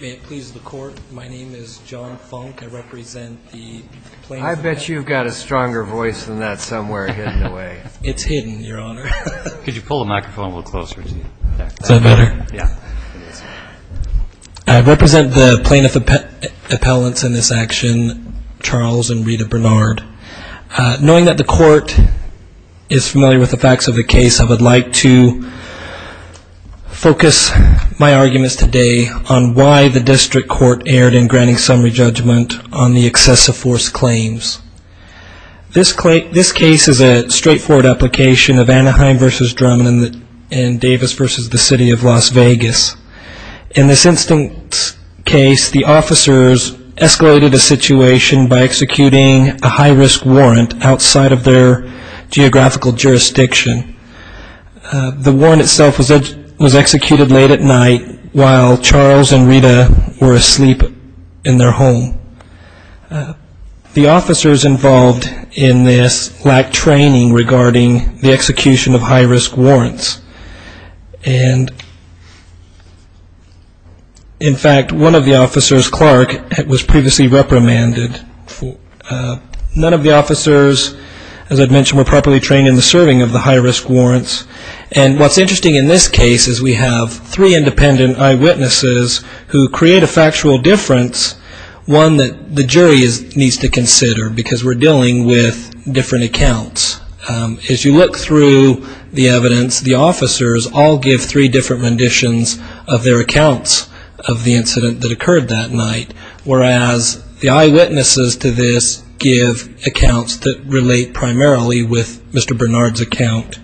May it please the court, my name is John Funk. I represent the plaintiff appellants in this action, Charles and Rita Bernard. Knowing that the court is familiar with the facts of the case, I would like to focus my arguments today on why the district court erred in granting summary judgment on the excessive force claims. This case is a straightforward application of Anaheim v. Drummond and Davis v. The City of Las Vegas. In this instance case, the officers escalated a situation by executing a high risk warrant outside of their geographical jurisdiction. The warrant itself was executed late at night while Charles and Rita were asleep in their home. The officers involved in this lacked training regarding the execution of high risk warrants. In fact, one of the officers, Clark, was previously reprimanded. None of the officers, as I mentioned, were properly trained in the serving of the high risk warrants. And what's interesting in this case is we have three independent eyewitnesses who create a factual difference, one that the jury needs to consider because we're dealing with different accounts. As you look through the evidence, the officers all give three different renditions of their accounts of the incident that occurred that night, whereas the eyewitnesses to this give accounts that relate primarily with the incident. The eyewitnesses to this give accounts that relate primarily with Mr. Bernard's account.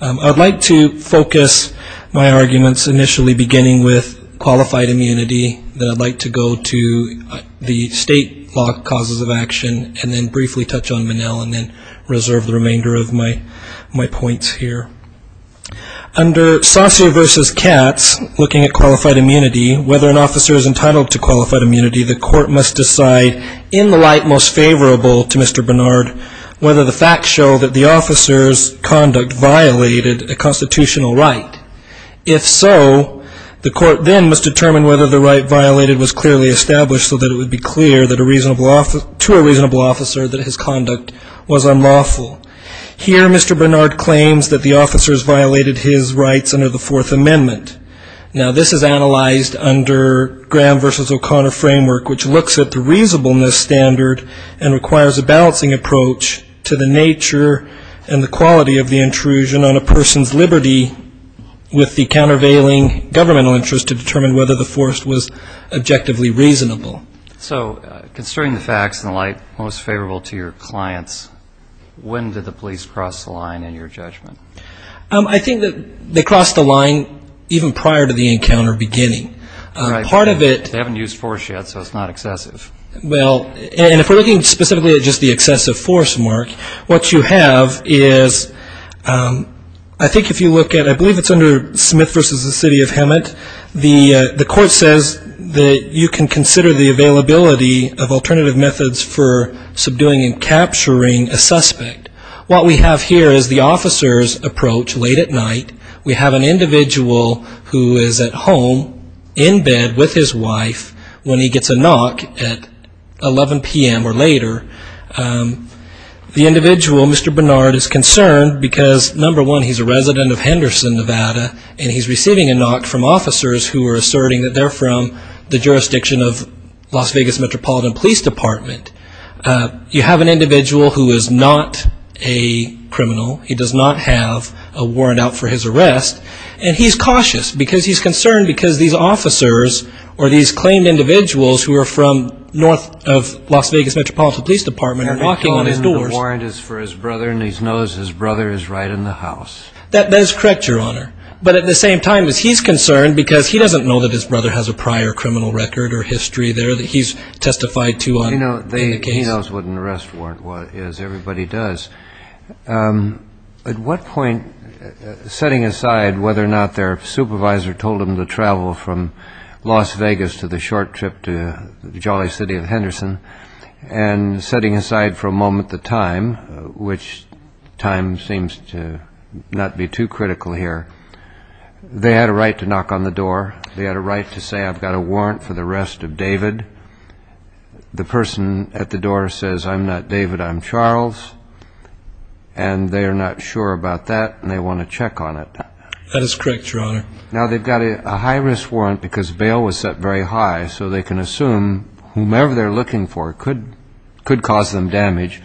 I'd like to focus my arguments initially beginning with qualified immunity, then I'd like to go to the state law causes of action, and then briefly touch on Monell and then reserve the remainder of my points here. Under Saucier v. Katz, looking at qualified immunity, whether an officer is entitled to qualified immunity, the court must decide in the light most favorable to the officer's conduct violated a constitutional right. If so, the court then must determine whether the right violated was clearly established so that it would be clear to a reasonable officer that his conduct was unlawful. Here, Mr. Bernard claims that the officers violated his rights under the Fourth Amendment. Now, this is analyzed under Graham v. O'Connor framework, which looks at the reasonableness standard and requires a balancing approach to the nature and the quality of the intrusion on a person's liberty with the countervailing governmental interest to determine whether the force was objectively reasonable. So, considering the facts in the light most favorable to your clients, when did the police cross the line in your judgment? I think that they crossed the line even prior to the encounter beginning. Part of it they haven't used force yet, so it's not excessive. Well, and if we're looking specifically at just the excessive force mark, what you have is, I think if you look at, I believe it's under Smith v. the City of Hemet, the court says that you can consider the availability of alternative methods for subduing and capturing a suspect. What we have here is the officer's approach late at night. We have an individual who is at home in bed with his wife when he gets a knock at the door, and he's concerned because he's a resident of Henderson, Nevada, and he's receiving a knock from officers who are asserting that they're from the jurisdiction of Las Vegas Metropolitan Police Department. You have an individual who is not a criminal, he does not have a warrant out for his arrest, and he's cautious because he's concerned because these officers, or these claimed individuals who are from north of Las Vegas Metropolitan Police Department are knocking on his doors. And the warrant is for his brother, and he knows his brother is right in the house. That is correct, Your Honor. But at the same time, he's concerned because he doesn't know that his brother has a prior criminal record or history there that he's testified to on the case. He knows what an arrest warrant is, everybody does. At what point, setting aside whether or not their supervisor told them to travel from Las Vegas to the short trip to the jolly city of Henderson, and setting aside for a moment the time, which time seems to not be too critical here, they had a right to knock on the door and say, I'm not David, I'm Charles. And they are not sure about that, and they want to check on it. That is correct, Your Honor. Now, they've got a high-risk warrant because bail was set very high, so they can assume whomever they're looking for could cause them damage.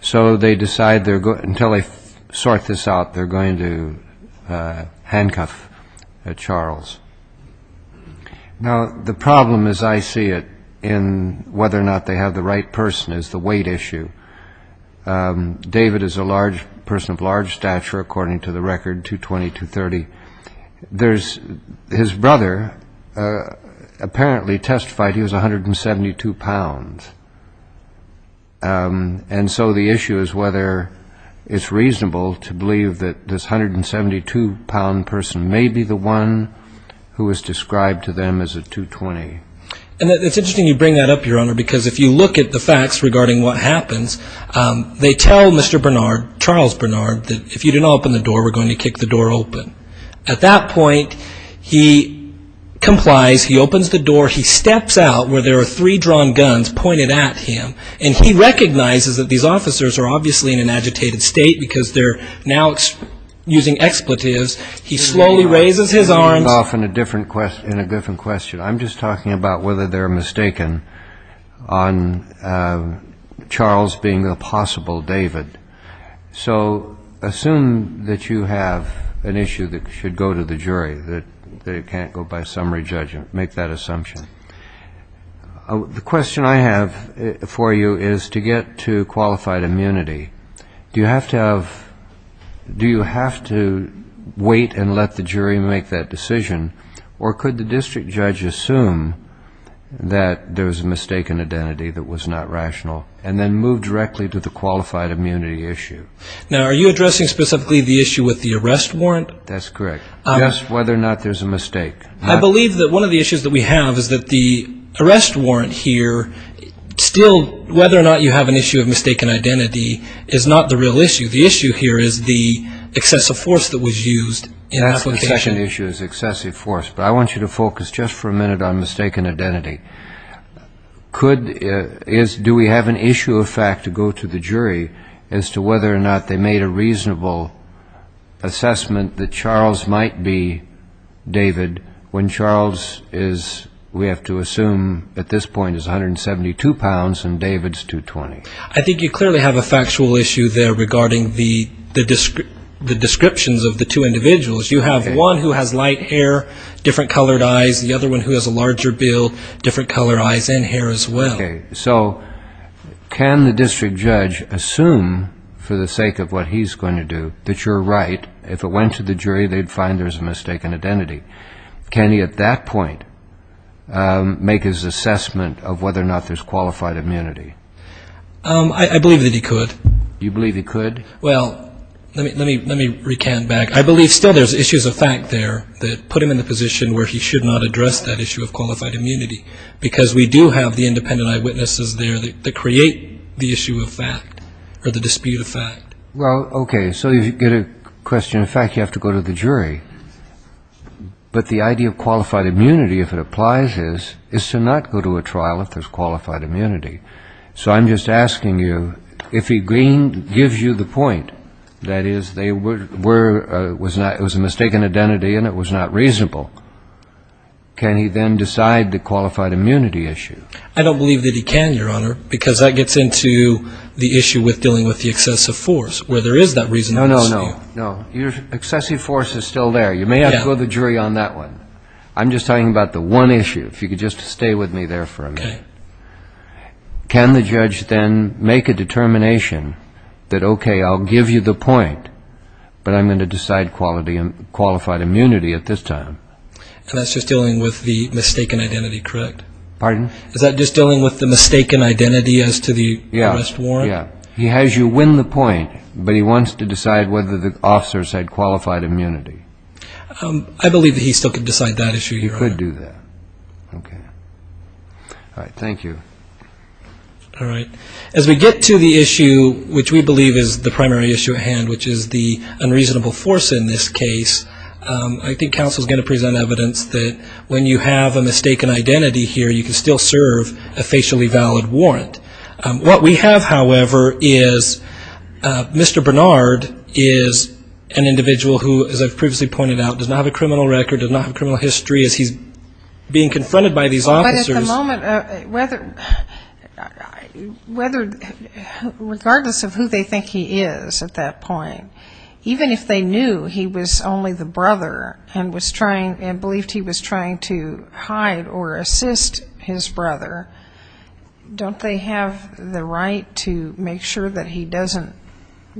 So they decide until they sort this out, they're going to handcuff Charles. Now, the problem, as I see it, in whether or not they have the right person is the weight issue. David is a person of large stature, according to the record, 220-230. His brother apparently testified he was 172 pounds. And so the issue is whether it's reasonable to believe that this 172-pound person may be the one who was described to them as a 220. And it's interesting you bring that up, Your Honor, because if you look at the facts regarding what happens, they tell Mr. Bernard, Charles Bernard, that if you didn't open the door, we're going to kick the door open. At that point, he complies, he opens the door, he steps out where there are three drawn guns pointed at him, and he recognizes that these officers are obviously in an agitated state because they're now using expletives. He slowly raises his hand, and he says, Mr. Bernard, I have a different question. I'm just talking about whether they're mistaken on Charles being the possible David. So assume that you have an issue that should go to the jury, that it can't go by summary judgment. Make that assumption. The question I have for you is to get to qualified immunity, do you have to wait and let the jury make that decision? Or could the district judge assume that there was a mistaken identity that was not rational, and then move directly to the qualified immunity issue? Now, are you addressing specifically the issue with the arrest warrant? That's correct. Just whether or not there's a mistake. I believe that one of the issues that we have is that the arrest warrant here, still whether or not you have an issue of mistaken identity is not the real issue. The issue here is the excessive force that was used in application. That's the second issue, is excessive force. But I want you to focus just for a minute on mistaken identity. Do we have an issue of fact to go to the jury as to whether or not they made a reasonable assessment that Charles might be David, when Charles, we have to assume at this point, is 172 pounds and David's 220? I think you clearly have a factual issue there regarding the descriptions of the two individuals. You have one who has light hair, different colored eyes, the other one who has a larger build, different color eyes and hair as well. Okay, so can the district judge assume, for the sake of what he's going to do, that you're right? If it went to the jury, they'd find there's a mistaken identity. Can he at that point make his assessment of whether or not there's qualified immunity? I believe that he could. You believe he could? Well, let me recant back. I believe still there's issues of fact there that put him in the position where he should not address that issue of qualified immunity, because we do have the independent eyewitnesses there that create the issue of fact or the dispute of fact. Well, okay, so you get a question of fact, you have to go to the jury. But the idea of qualified immunity, if it applies, is to not go to a trial if there's qualified immunity. So I'm just asking you, if he gives you the point that it was a mistaken identity and it was not reasonable, can he then decide the qualified immunity issue? I don't believe that he can, Your Honor, because that gets into the issue with dealing with the excessive force, where there is that reasonable dispute. No, no, no. Excessive force is still there. You may have to go to the jury on that one. I'm just talking about the one issue, if you could just stay with me there for a minute. Can the judge then make a determination that, okay, I'll give you the point, but I'm going to decide qualified immunity at this time? And that's just dealing with the mistaken identity, correct? Pardon? Is that just dealing with the mistaken identity as to the arrest warrant? Yeah, yeah. He has you win the point, but he wants to decide whether the officers had qualified immunity. I believe that he still could decide that issue, Your Honor. He could do that. Okay. All right. Thank you. All right. As we get to the issue which we believe is the primary issue at hand, which is the unreasonable force in this case, I think counsel is going to present evidence that when you have a mistaken identity here, you can still serve a facially valid warrant. What we have, however, is Mr. Bernard is an individual who, as I've previously pointed out, does not have a criminal record, does not have a criminal history, as he's being confronted by these officers. But at the moment, whether regardless of who they think he is at that point, even if they knew he was only the officer, the brother, and believed he was trying to hide or assist his brother, don't they have the right to make sure that he doesn't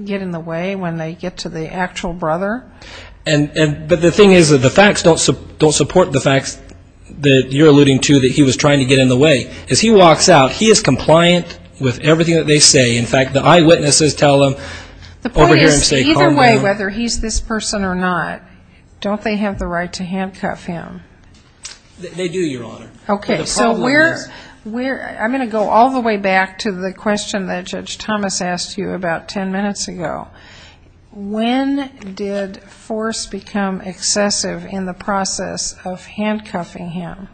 get in the way when they get to the actual brother? But the thing is that the facts don't support the facts that you're alluding to that he was trying to get in the way. As he walks out, he is compliant with everything that they say. In fact, the eyewitnesses tell him, over here in the state, calm down. The point is, either way, whether he's this person or not, don't they have the right to handcuff him? They do, Your Honor. Okay, so I'm going to go all the way back to the question that Judge Thomas asked you about ten minutes ago. When did force become excessive in the process of handcuffing him?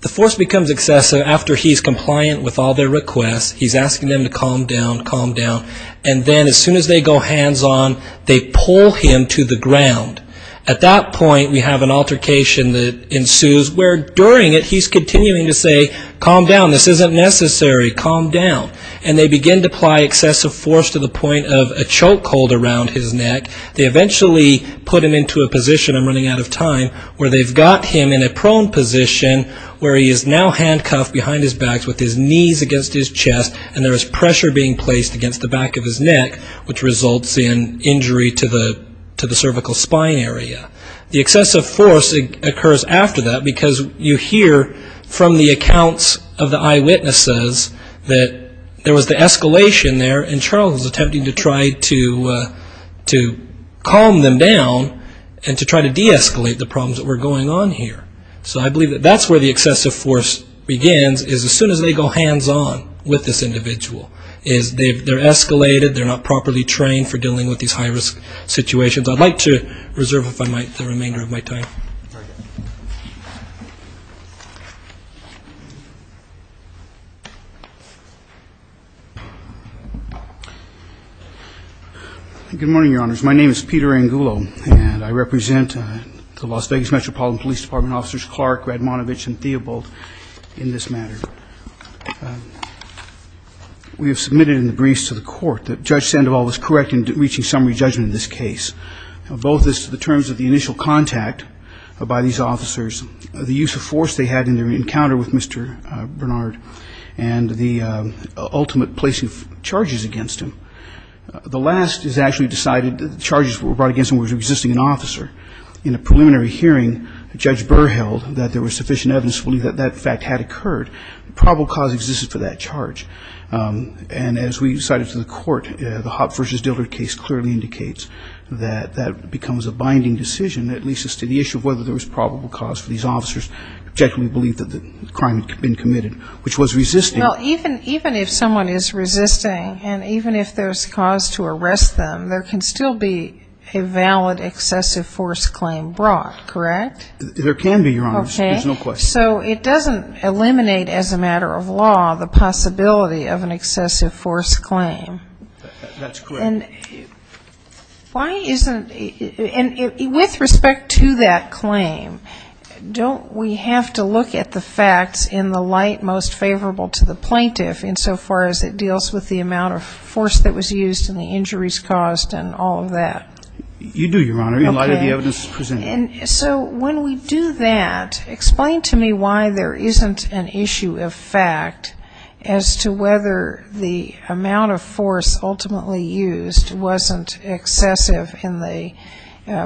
The force becomes excessive after he's compliant with all their requests. He's asking them to calm down, calm down, and then as soon as they go hands-on, they pull him to the ground. At that point, we have an altercation that ensues, where during it, he's continuing to say, calm down, this isn't necessary, calm down. And they begin to apply excessive force to the point of a choke hold around his neck. And they eventually put him into a position, I'm running out of time, where they've got him in a prone position where he is now handcuffed behind his back with his knees against his chest and there is pressure being placed against the back of his neck, which results in injury to the cervical spine area. The excessive force occurs after that because you hear from the accounts of the eyewitnesses that there was the escalation there and Charles was attempting to try to calm them down and to try to de-escalate the problems that were going on here. So I believe that that's where the excessive force begins, is as soon as they go hands-on with this individual. They're escalated, they're not properly trained for dealing with these high-risk situations. I'd like to reserve the remainder of my time. Good morning, Your Honors. My name is Peter Angulo and I represent the Las Vegas Metropolitan Police Department officers Clark, Radmonovich and Theobald in this matter. We have submitted in the briefs to the court that Judge Sandoval was correct in reaching summary judgment in this case. Both as to the terms of the initial contact by these officers, the use of force they had in their encounter with Mr. Bernard and the ultimate placing of charges against him. The last is actually decided that the charges brought against him was resisting an officer. In a preliminary hearing, Judge Burr held that there was sufficient evidence to believe that that fact had occurred. Probable cause existed for that charge. And as we cited to the court, the Hopp v. Dillard case clearly indicates that that becomes a binding decision that leads us to the issue of whether there was probable cause for these officers to objectively believe that the crime had been committed, which was resisting. Well, even if someone is resisting and even if there's cause to arrest them, there can still be a valid excessive force claim brought, correct? There can be, Your Honor, there's no question. So it doesn't eliminate as a matter of law the possibility of an excessive force claim. That's correct. And with respect to that claim, don't we have to look at the facts in the light most favorable to the plaintiff insofar as it deals with the amount of force that was used and the injuries caused and all of that? You do, Your Honor, in light of the evidence presented. So when we do that, explain to me why there isn't an issue of fact as to whether the amount of force ultimately used wasn't excessive in the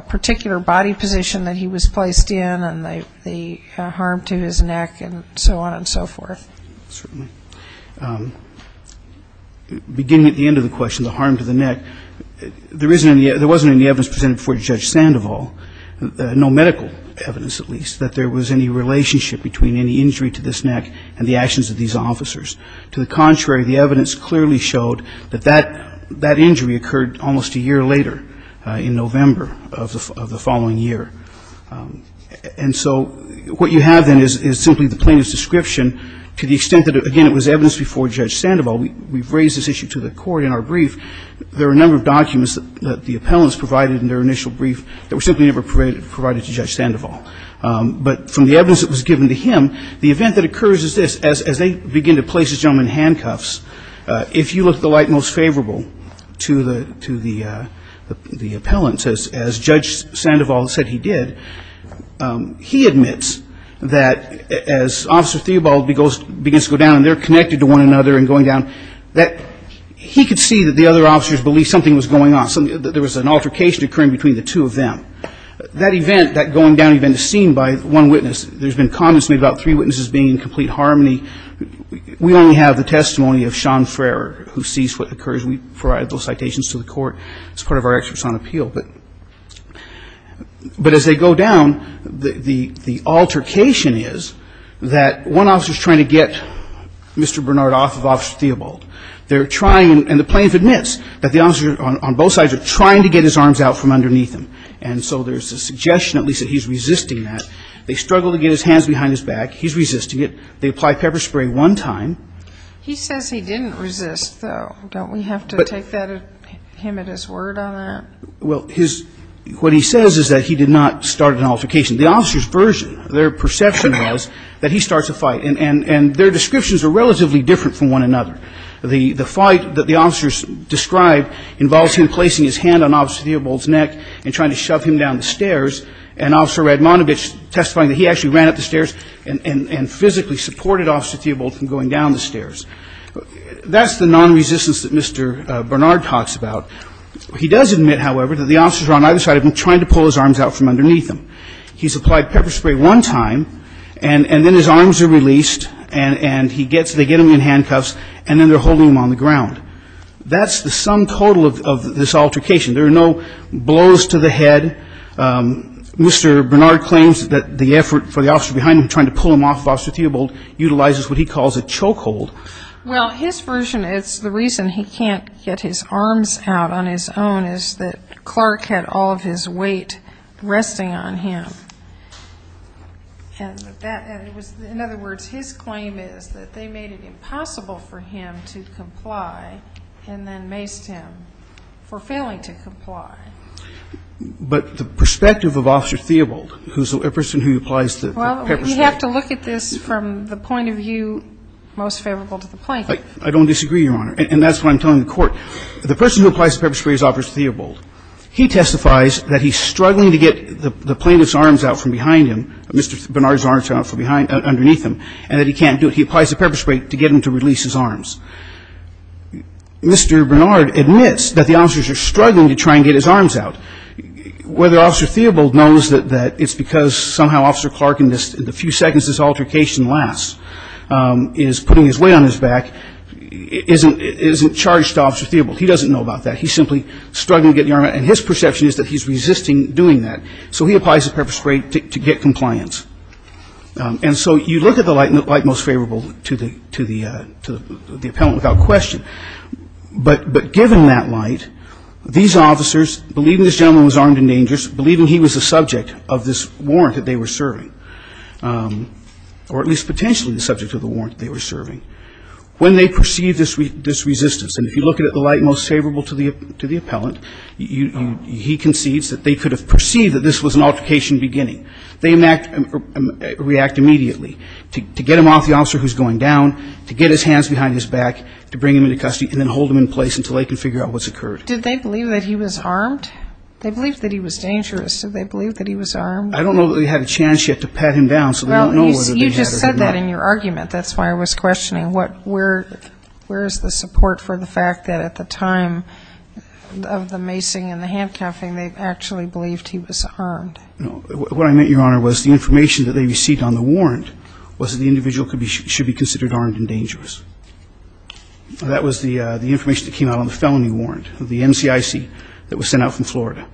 particular body position that he was placed in and the harm to his neck and so on and so forth. Certainly. Beginning at the end of the question, the harm to the neck, there wasn't any evidence presented before Judge Sandoval, no medical evidence at least, that there was any relationship between any injury to this neck and the actions of these officers. To the contrary, the evidence clearly showed that that injury occurred almost a year later, in November of the following year. And so what you have then is simply the plaintiff's description to the extent that, again, it was evidence before Judge Sandoval. We've raised this issue to the Court in our brief. There are a number of documents that the appellants provided in their initial brief that were simply never provided to Judge Sandoval. But from the evidence that was given to him, the event that occurs is this. He admits that as Officer Theobald begins to go down and they're connected to one another and going down, that he could see that the other officers believed something was going on, that there was an altercation occurring between the two of them. That event, that going down event is seen by one witness. There's been comments made about three witnesses being in complete harmony. We only have the testimony of Sean Frerer, who sees what occurs. We provide those citations to the Court as part of our experts on appeal. But as they go down, the altercation is that one officer is trying to get Mr. Bernard off of Officer Theobald. They're trying, and the plaintiff admits that the officers on both sides are trying to get his arms out from underneath him. And so there's a suggestion at least that he's resisting that. They struggle to get his hands behind his back. He's resisting it. They apply pepper spray one time. He says he didn't resist, though. Don't we have to take him at his word on that? Well, what he says is that he did not start an altercation. The officers' version, their perception was that he starts a fight. And their descriptions are relatively different from one another. The fight that the officers described involves him placing his hand on Officer Theobald's neck and trying to shove him down the stairs, and Officer Radmanovich testifying that he actually ran up the stairs and physically supported Officer Theobald from going down the stairs. That's the nonresistance that Mr. Bernard talks about. He does admit, however, that the officers on either side have been trying to pull his arms out from underneath him. He's applied pepper spray one time, and then his arms are released, and he gets them in handcuffs, and then they're holding him on the ground. That's the sum total of this altercation. There are no blows to the head. Mr. Bernard claims that the effort for the officer behind him trying to pull him off of Officer Theobald utilizes what he calls a choke hold. Well, his version is the reason he can't get his arms out on his own is that Clark had all of his weight resting on him. In other words, his claim is that they made it impossible for him to comply and then maced him for failing to comply. But the perspective of Officer Theobald, who's the person who applies the pepper spray. Well, we have to look at this from the point of view most favorable to the plaintiff. I don't disagree, Your Honor, and that's what I'm telling the Court. The person who applies the pepper spray is Officer Theobald. He testifies that he's struggling to get the plaintiff's arms out from behind him, Mr. Bernard's arms out from underneath him, and that he can't do it. He applies the pepper spray to get him to release his arms. Mr. Bernard admits that the officers are struggling to try and get his arms out. Whether Officer Theobald knows that it's because somehow Officer Clark, in the few seconds this altercation lasts, is putting his weight on his back, isn't charged to Officer Theobald. He doesn't know about that. He's simply struggling to get the arm out, and his perception is that he's resisting doing that. So he applies the pepper spray to get compliance. And so you look at the light most favorable to the appellant without question. But given that light, these officers, believing this gentleman was armed and dangerous, believing he was the subject of this warrant that they were serving, or at least potentially the subject of the warrant they were serving, when they perceive this resistance, and if you look at the light most favorable to the appellant, he concedes that they could have perceived that this was an altercation beginning. They react immediately to get him off the officer who's going down, to get his hands behind his back, to bring him into custody, and then hold him in place until they can figure out what's occurred. Did they believe that he was armed? They believed that he was dangerous. Did they believe that he was armed? I don't know that they had a chance yet to pat him down, so they don't know whether they had or did not. Well, you just said that in your argument. That's why I was questioning where is the support for the fact that at the time of the macing and the handcuffing they actually believed he was armed. What I meant, Your Honor, was the information that they received on the warrant was that the individual should be considered armed and dangerous. That was the information that came out on the felony warrant, the MCIC that was sent out from Florida.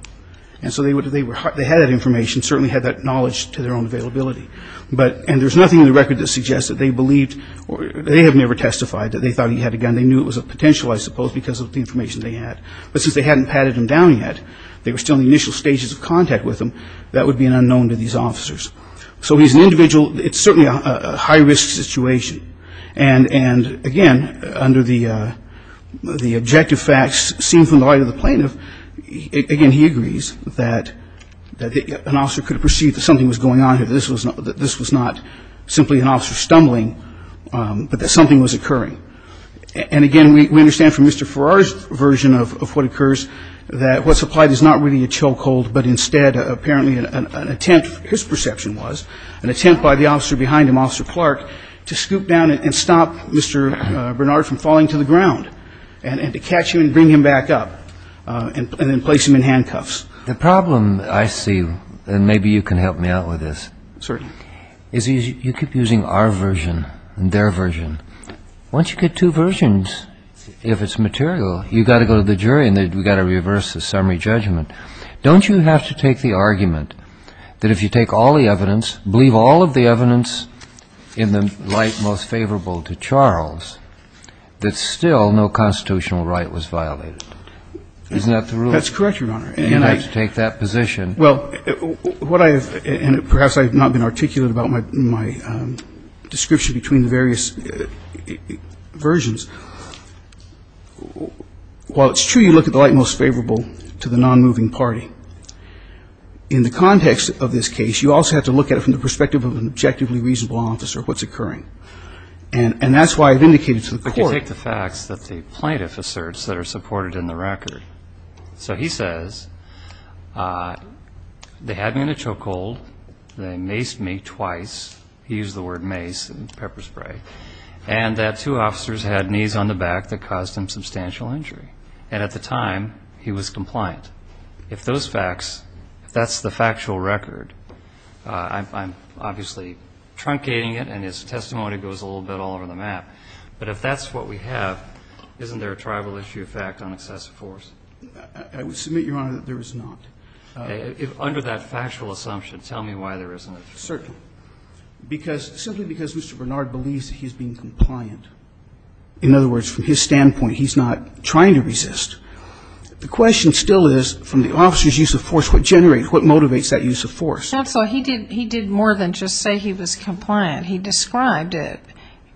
And so they had that information, certainly had that knowledge to their own availability. And there's nothing in the record that suggests that they believed or they have never testified that they thought he had a gun. They knew it was a potential, I suppose, because of the information they had. But since they hadn't patted him down yet, they were still in the initial stages of contact with him, that would be an unknown to these officers. So he's an individual. It's certainly a high-risk situation. And, again, under the objective facts seen from the right of the plaintiff, again, he agrees that an officer could have perceived that something was going on here, that this was not simply an officer stumbling, but that something was occurring. And, again, we understand from Mr. Farrar's version of what occurs, that what's applied is not really a chokehold, but instead apparently an attempt, his perception was, an attempt by the officer behind him, Officer Clark, to scoop down and stop Mr. Bernard from falling to the ground and to catch him and bring him back up and then place him in handcuffs. The problem I see, and maybe you can help me out with this, is you keep using our version and their version. Once you get two versions, if it's material, you've got to go to the jury and we've got to reverse the summary judgment. Don't you have to take the argument that if you take all the evidence, believe all of the evidence in the light most favorable to Charles, that still no constitutional right was violated? Isn't that the rule? That's correct, Your Honor. And you have to take that position. Well, what I have, and perhaps I have not been articulate about my description between the various versions. While it's true you look at the light most favorable to the nonmoving party, in the context of this case, you also have to look at it from the perspective of an objectively reasonable officer, what's occurring. And that's why I've indicated to the court. But you take the facts that the plaintiff asserts that are supported in the record. So he says, they had me in a chokehold, they maced me twice, he used the word mace and pepper spray, and that two officers had knees on the back that caused him substantial injury. And at the time, he was compliant. If those facts, if that's the factual record, I'm obviously truncating it and his testimony goes a little bit all over the map. But if that's what we have, isn't there a tribal issue effect on excessive force? I would submit, Your Honor, that there is not. If under that factual assumption, tell me why there isn't. Certainly. Simply because Mr. Bernard believes that he's being compliant. In other words, from his standpoint, he's not trying to resist. The question still is, from the officer's use of force, what generates, what motivates that use of force? Counsel, he did more than just say he was compliant. He described it.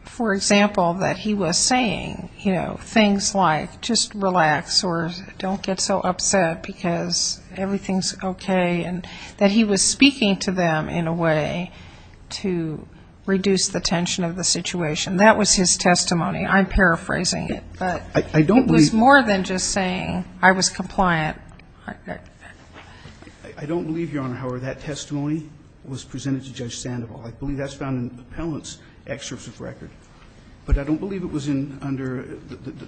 For example, that he was saying things like, just relax, or don't get so upset because everything's okay, and that he was speaking to them in a way to reduce the tension of the situation. That was his testimony. I'm paraphrasing it. But it was more than just saying I was compliant. I don't believe, Your Honor, however, that testimony was presented to Judge Sandoval. I believe that's found in the appellant's excerpts of record. But I don't believe it was under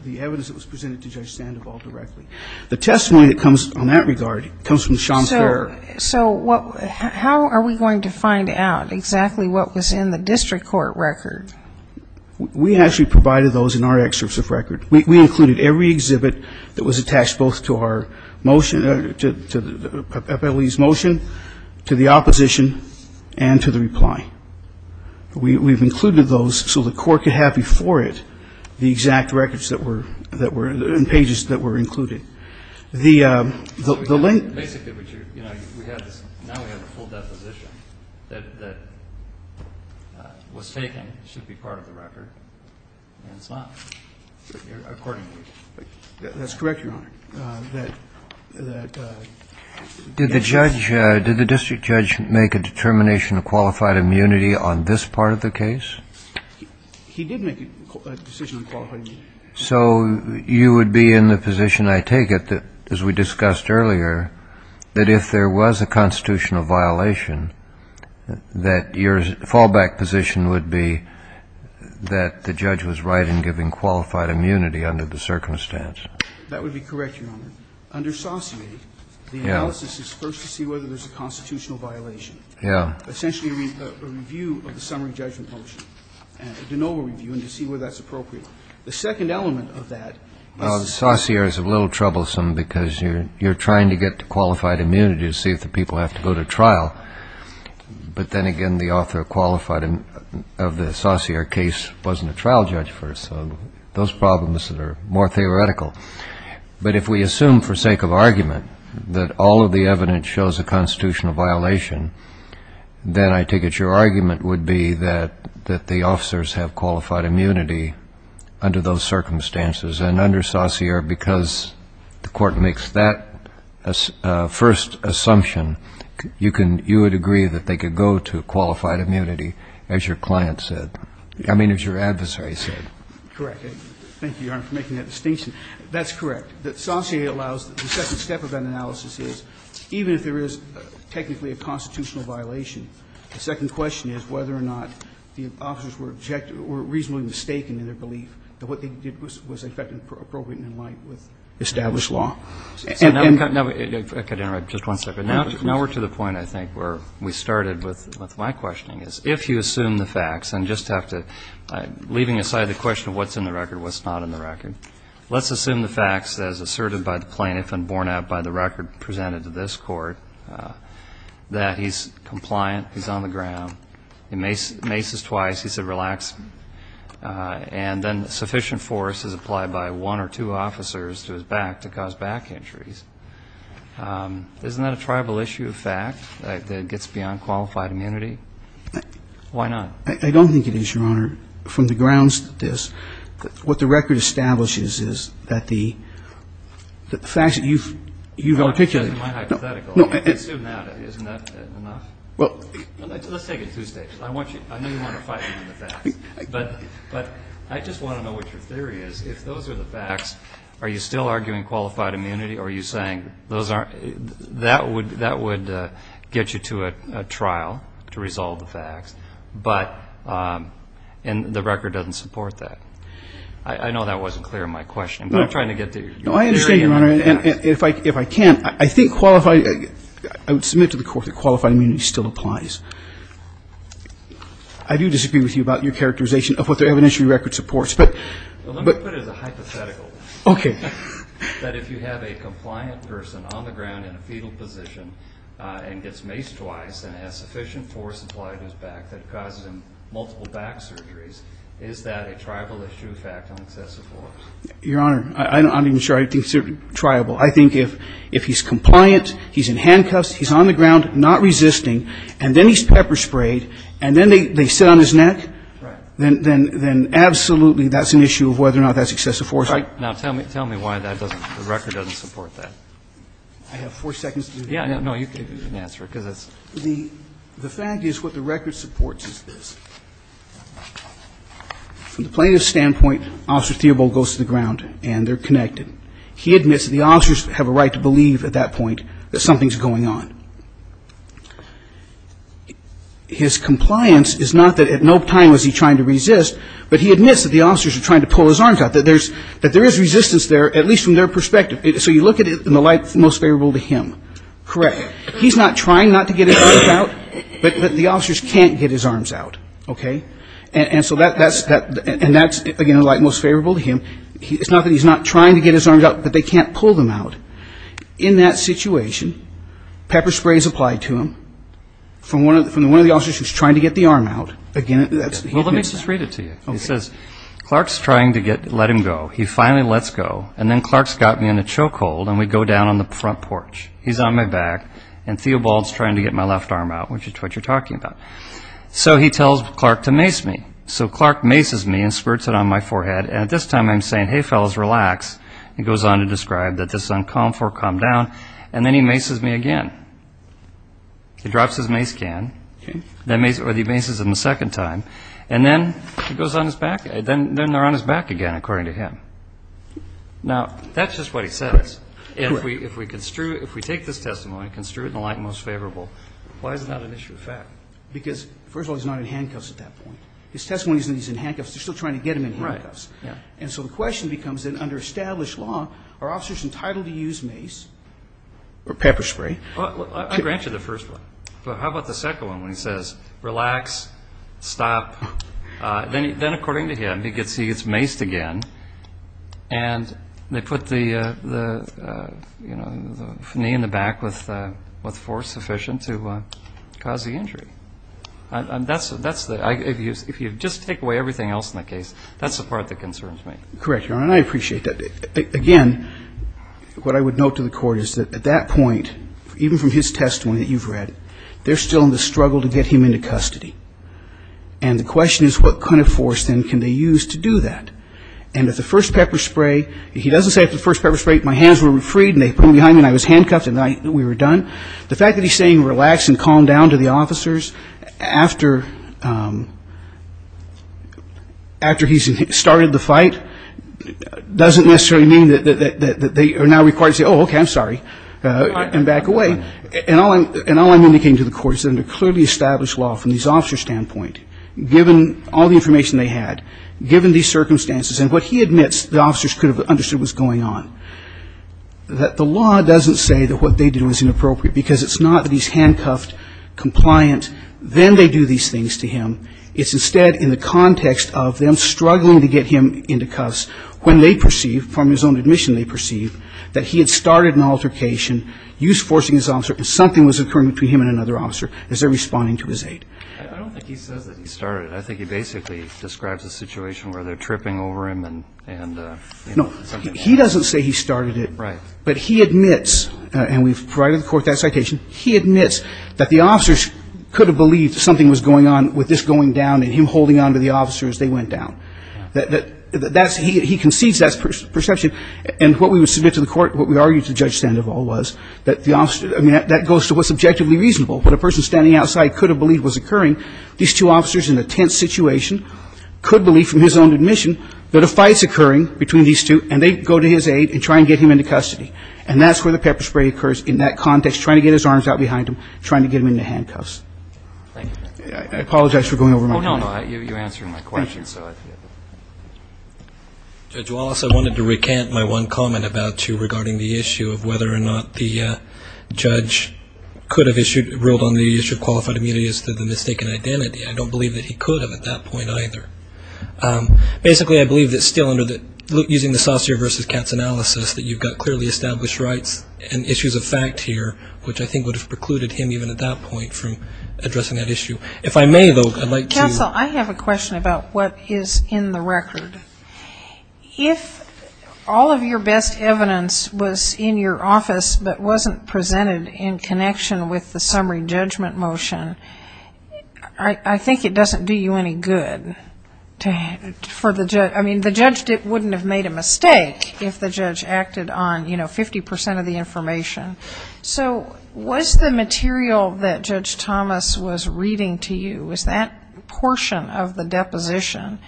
the evidence that was presented to Judge Sandoval directly. The testimony that comes on that regard comes from Sean Ferrer. So how are we going to find out exactly what was in the district court record? We actually provided those in our excerpts of record. We included every exhibit that was attached both to our motion, to the appellee's motion, to the opposition, and to the reply. We've included those so the court could have before it the exact records that were, and pages that were included. So basically what you're, you know, we have this, now we have a full deposition that was taken, should be part of the record, and it's not, according to you. That's correct, Your Honor. Did the judge, did the district judge make a determination of qualified immunity on this part of the case? He did make a decision of qualified immunity. So you would be in the position, I take it, as we discussed earlier, that if there was a constitutional violation, that your fallback position would be that the judge was right in giving qualified immunity under the circumstance. That would be correct, Your Honor. Under sauciety, the analysis is first to see whether there's a constitutional violation. Yeah. Essentially a review of the summary judgment motion, a de novo review, and to see whether that's appropriate. The second element of that is. The saucier is a little troublesome because you're trying to get qualified immunity to see if the people have to go to trial. But then again, the author qualified of the saucier case wasn't a trial judge first, so those problems are more theoretical. But if we assume for sake of argument that all of the evidence shows a constitutional violation, then I take it your argument would be that the officers have qualified immunity under those circumstances. And under saucier, because the Court makes that first assumption, you can you would agree that they could go to qualified immunity, as your client said. I mean, as your adversary said. Correct. Thank you, Your Honor, for making that distinction. That's correct. The saucier allows the second step of that analysis is even if there is technically a constitutional violation, the second question is whether or not the officers were reasonably mistaken in their belief that what they did was appropriate and in line with established law. I could interrupt just one second. Now we're to the point, I think, where we started with my questioning, is if you assume the facts, and just have to, leaving aside the question of what's in the record, what's not in the record, let's assume the facts as asserted by the plaintiff and borne out by the record presented to this Court, that he's compliant, he's on the ground, he maces twice, he said, relax, and then sufficient force is applied by one or two officers to his back to cause back injuries. Isn't that a tribal issue of fact, that it gets beyond qualified immunity? Why not? I don't think it is, Your Honor. What the record establishes is that the facts that you've articulated. That's my hypothetical. I can assume that. Isn't that enough? Let's take it two steps. I know you want to fight on the facts, but I just want to know what your theory is. If those are the facts, are you still arguing qualified immunity, or are you saying That would get you to a trial to resolve the facts, and the record doesn't support that. I know that wasn't clear in my questioning, but I'm trying to get to your theory. No, I understand, Your Honor, and if I can, I think qualified, I would submit to the Court that qualified immunity still applies. I do disagree with you about your characterization of what the evidentiary record supports. Let me put it as a hypothetical. Okay. That if you have a compliant person on the ground in a fetal position and gets maced twice and has sufficient force applied to his back that causes him multiple back surgeries, is that a triable issue of fact on excessive force? Your Honor, I'm not even sure I'd consider it triable. I think if he's compliant, he's in handcuffs, he's on the ground not resisting, and then he's pepper sprayed, and then they sit on his neck, then absolutely that's an issue of whether or not that's excessive force. All right. Now, tell me why the record doesn't support that. I have four seconds to do that. Yeah, no, you can answer it. The fact is what the record supports is this. From the plaintiff's standpoint, Officer Theobald goes to the ground and they're connected. He admits that the officers have a right to believe at that point that something's going on. His compliance is not that at no time was he trying to resist, but he admits that the officers are trying to pull his arms out, that there is resistance there, at least from their perspective. So you look at it in the light most favorable to him. Correct. He's not trying not to get his arms out, but the officers can't get his arms out. Okay? And so that's, again, in the light most favorable to him. It's not that he's not trying to get his arms out, but they can't pull them out. In that situation, pepper spray is applied to him from one of the officers who's trying to get the arm out. Well, let me just read it to you. It says, Clark's trying to let him go. He finally lets go, and then Clark's got me in a choke hold, and we go down on the front porch. He's on my back, and Theobald's trying to get my left arm out, which is what you're talking about. So he tells Clark to mace me. So Clark maces me and squirts it on my forehead, and at this time I'm saying, hey, fellas, relax. He goes on to describe that this is uncomfortable, calm down, and then he maces me again. He drops his mace can, or he maces him a second time, and then he goes on his back. Then they're on his back again, according to him. Now, that's just what he says. If we take this testimony and construe it in the light most favorable, why is it not an issue of fact? Because, first of all, he's not in handcuffs at that point. His testimony is that he's in handcuffs. They're still trying to get him in handcuffs. And so the question becomes, then, under established law, are officers entitled to use mace? Or pepper spray? I grant you the first one. But how about the second one, when he says, relax, stop? Then, according to him, he gets maced again, and they put the knee in the back with force sufficient to cause the injury. If you just take away everything else in the case, that's the part that concerns me. Correct, Your Honor, and I appreciate that. Again, what I would note to the Court is that at that point, even from his testimony that you've read, they're still in the struggle to get him into custody. And the question is, what kind of force, then, can they use to do that? And if the first pepper spray, he doesn't say, if the first pepper spray, my hands were freed and they put them behind me and I was handcuffed and we were done. The fact that he's saying relax and calm down to the officers after he's started the fight doesn't necessarily mean that they are now required to say, oh, okay, I'm sorry, and back away. And all I'm indicating to the Court is that in a clearly established law from the officer's standpoint, given all the information they had, given these circumstances, and what he admits the officers could have understood was going on, that the law doesn't say that what they do is inappropriate, because it's not that he's handcuffed, compliant, then they do these things to him. It's instead in the context of them struggling to get him into custody when they perceive, from his own admission they perceive, that he had started an altercation, use forcing his officer, and something was occurring between him and another officer as they're responding to his aid. I don't think he says that he started it. I think he basically describes a situation where they're tripping over him and, you know, something. No, he doesn't say he started it. Right. But he admits, and we've provided the Court that citation, he admits that the officers could have believed something was going on with this going down and him holding on to the officer as they went down. He concedes that perception. And what we would submit to the Court, what we argued to Judge Sandoval was that the officer, I mean, that goes to what's objectively reasonable. When a person standing outside could have believed was occurring, these two officers in a tense situation could believe from his own admission that a fight's occurring between these two, and they go to his aid and try and get him into custody. And that's where the pepper spray occurs in that context, trying to get his arms out behind him, trying to get him into handcuffs. Thank you. I apologize for going over my hand. Oh, no, no. You answered my question. Thank you. Judge Wallace, I wanted to recant my one comment about you regarding the issue of whether or not the judge could have ruled on the issue of qualified immunity as to the mistaken identity. I don't believe that he could have at that point either. Basically, I believe that still under the using the Saucere versus Katz analysis, that you've got clearly established rights and issues of fact here, which I think would have precluded him even at that point from addressing that issue. If I may, though, I'd like to ---- Castle, I have a question about what is in the record. If all of your best evidence was in your office but wasn't presented in connection with the summary judgment motion, I think it doesn't do you any good for the judge. I mean, the judge wouldn't have made a mistake if the judge acted on 50 percent of the information. So was the material that Judge Thomas was reading to you, was that portion of the deposition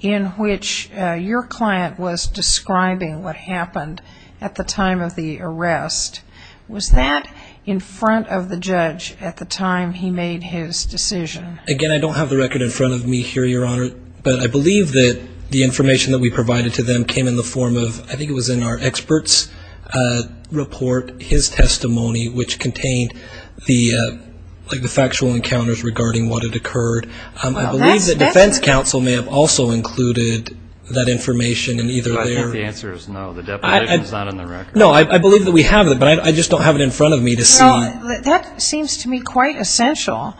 in which your client was describing what happened at the time of the arrest, was that in front of the judge at the time he made his decision? Again, I don't have the record in front of me here, Your Honor, but I believe that the information that we provided to them came in the form of, I think it was in our expert's report, his testimony, which contained the factual encounters regarding what had occurred. I believe that defense counsel may have also included that information in either there. I think the answer is no. The deposition is not in the record. No, I believe that we have it, but I just don't have it in front of me to see. That seems to me quite essential.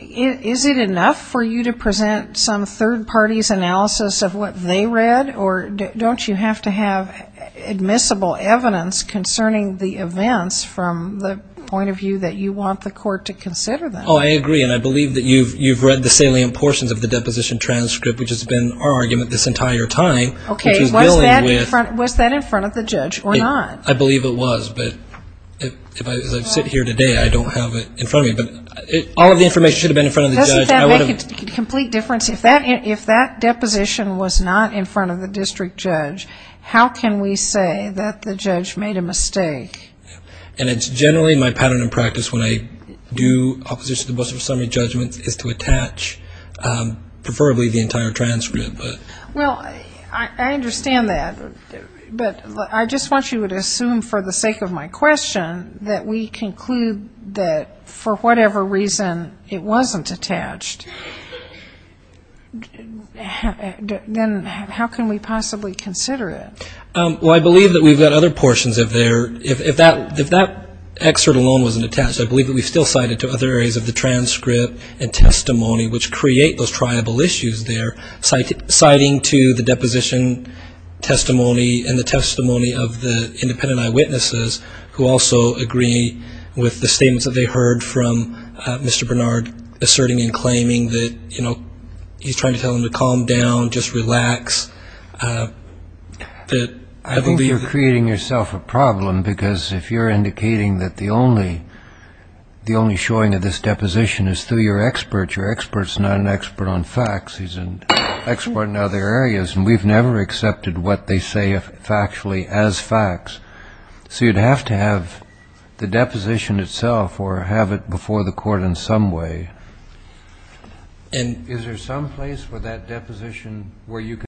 Is it enough for you to present some third party's analysis of what they read, or don't you have to have admissible evidence concerning the events from the point of view that you want the court to consider them? Oh, I agree, and I believe that you've read the salient portions of the deposition transcript, which has been our argument this entire time. Okay, was that in front of the judge or not? I believe it was, but as I sit here today, I don't have it in front of me. All of the information should have been in front of the judge. Doesn't that make a complete difference? If that deposition was not in front of the district judge, how can we say that the judge made a mistake? And it's generally my pattern and practice when I do opposition to the business summary judgment is to attach preferably the entire transcript. Well, I understand that, but I just want you to assume for the sake of my question that we conclude that for whatever reason it wasn't attached, then how can we possibly consider it? Well, I believe that we've got other portions of there. If that excerpt alone wasn't attached, I believe that we've still cited to other areas of the transcript and testimony, which create those triable issues there, citing to the deposition testimony and the testimony of the independent eyewitnesses who also agree with the statements that they heard from Mr. Bernard asserting and claiming that he's trying to tell them to calm down, just relax. I think you're creating yourself a problem because if you're indicating that the only showing of this deposition is through your expert, your expert's not an expert on facts, he's an expert in other areas, and we've never accepted what they say factually as facts. So you'd have to have the deposition itself or have it before the court in some way. And is there some place for that deposition where you can...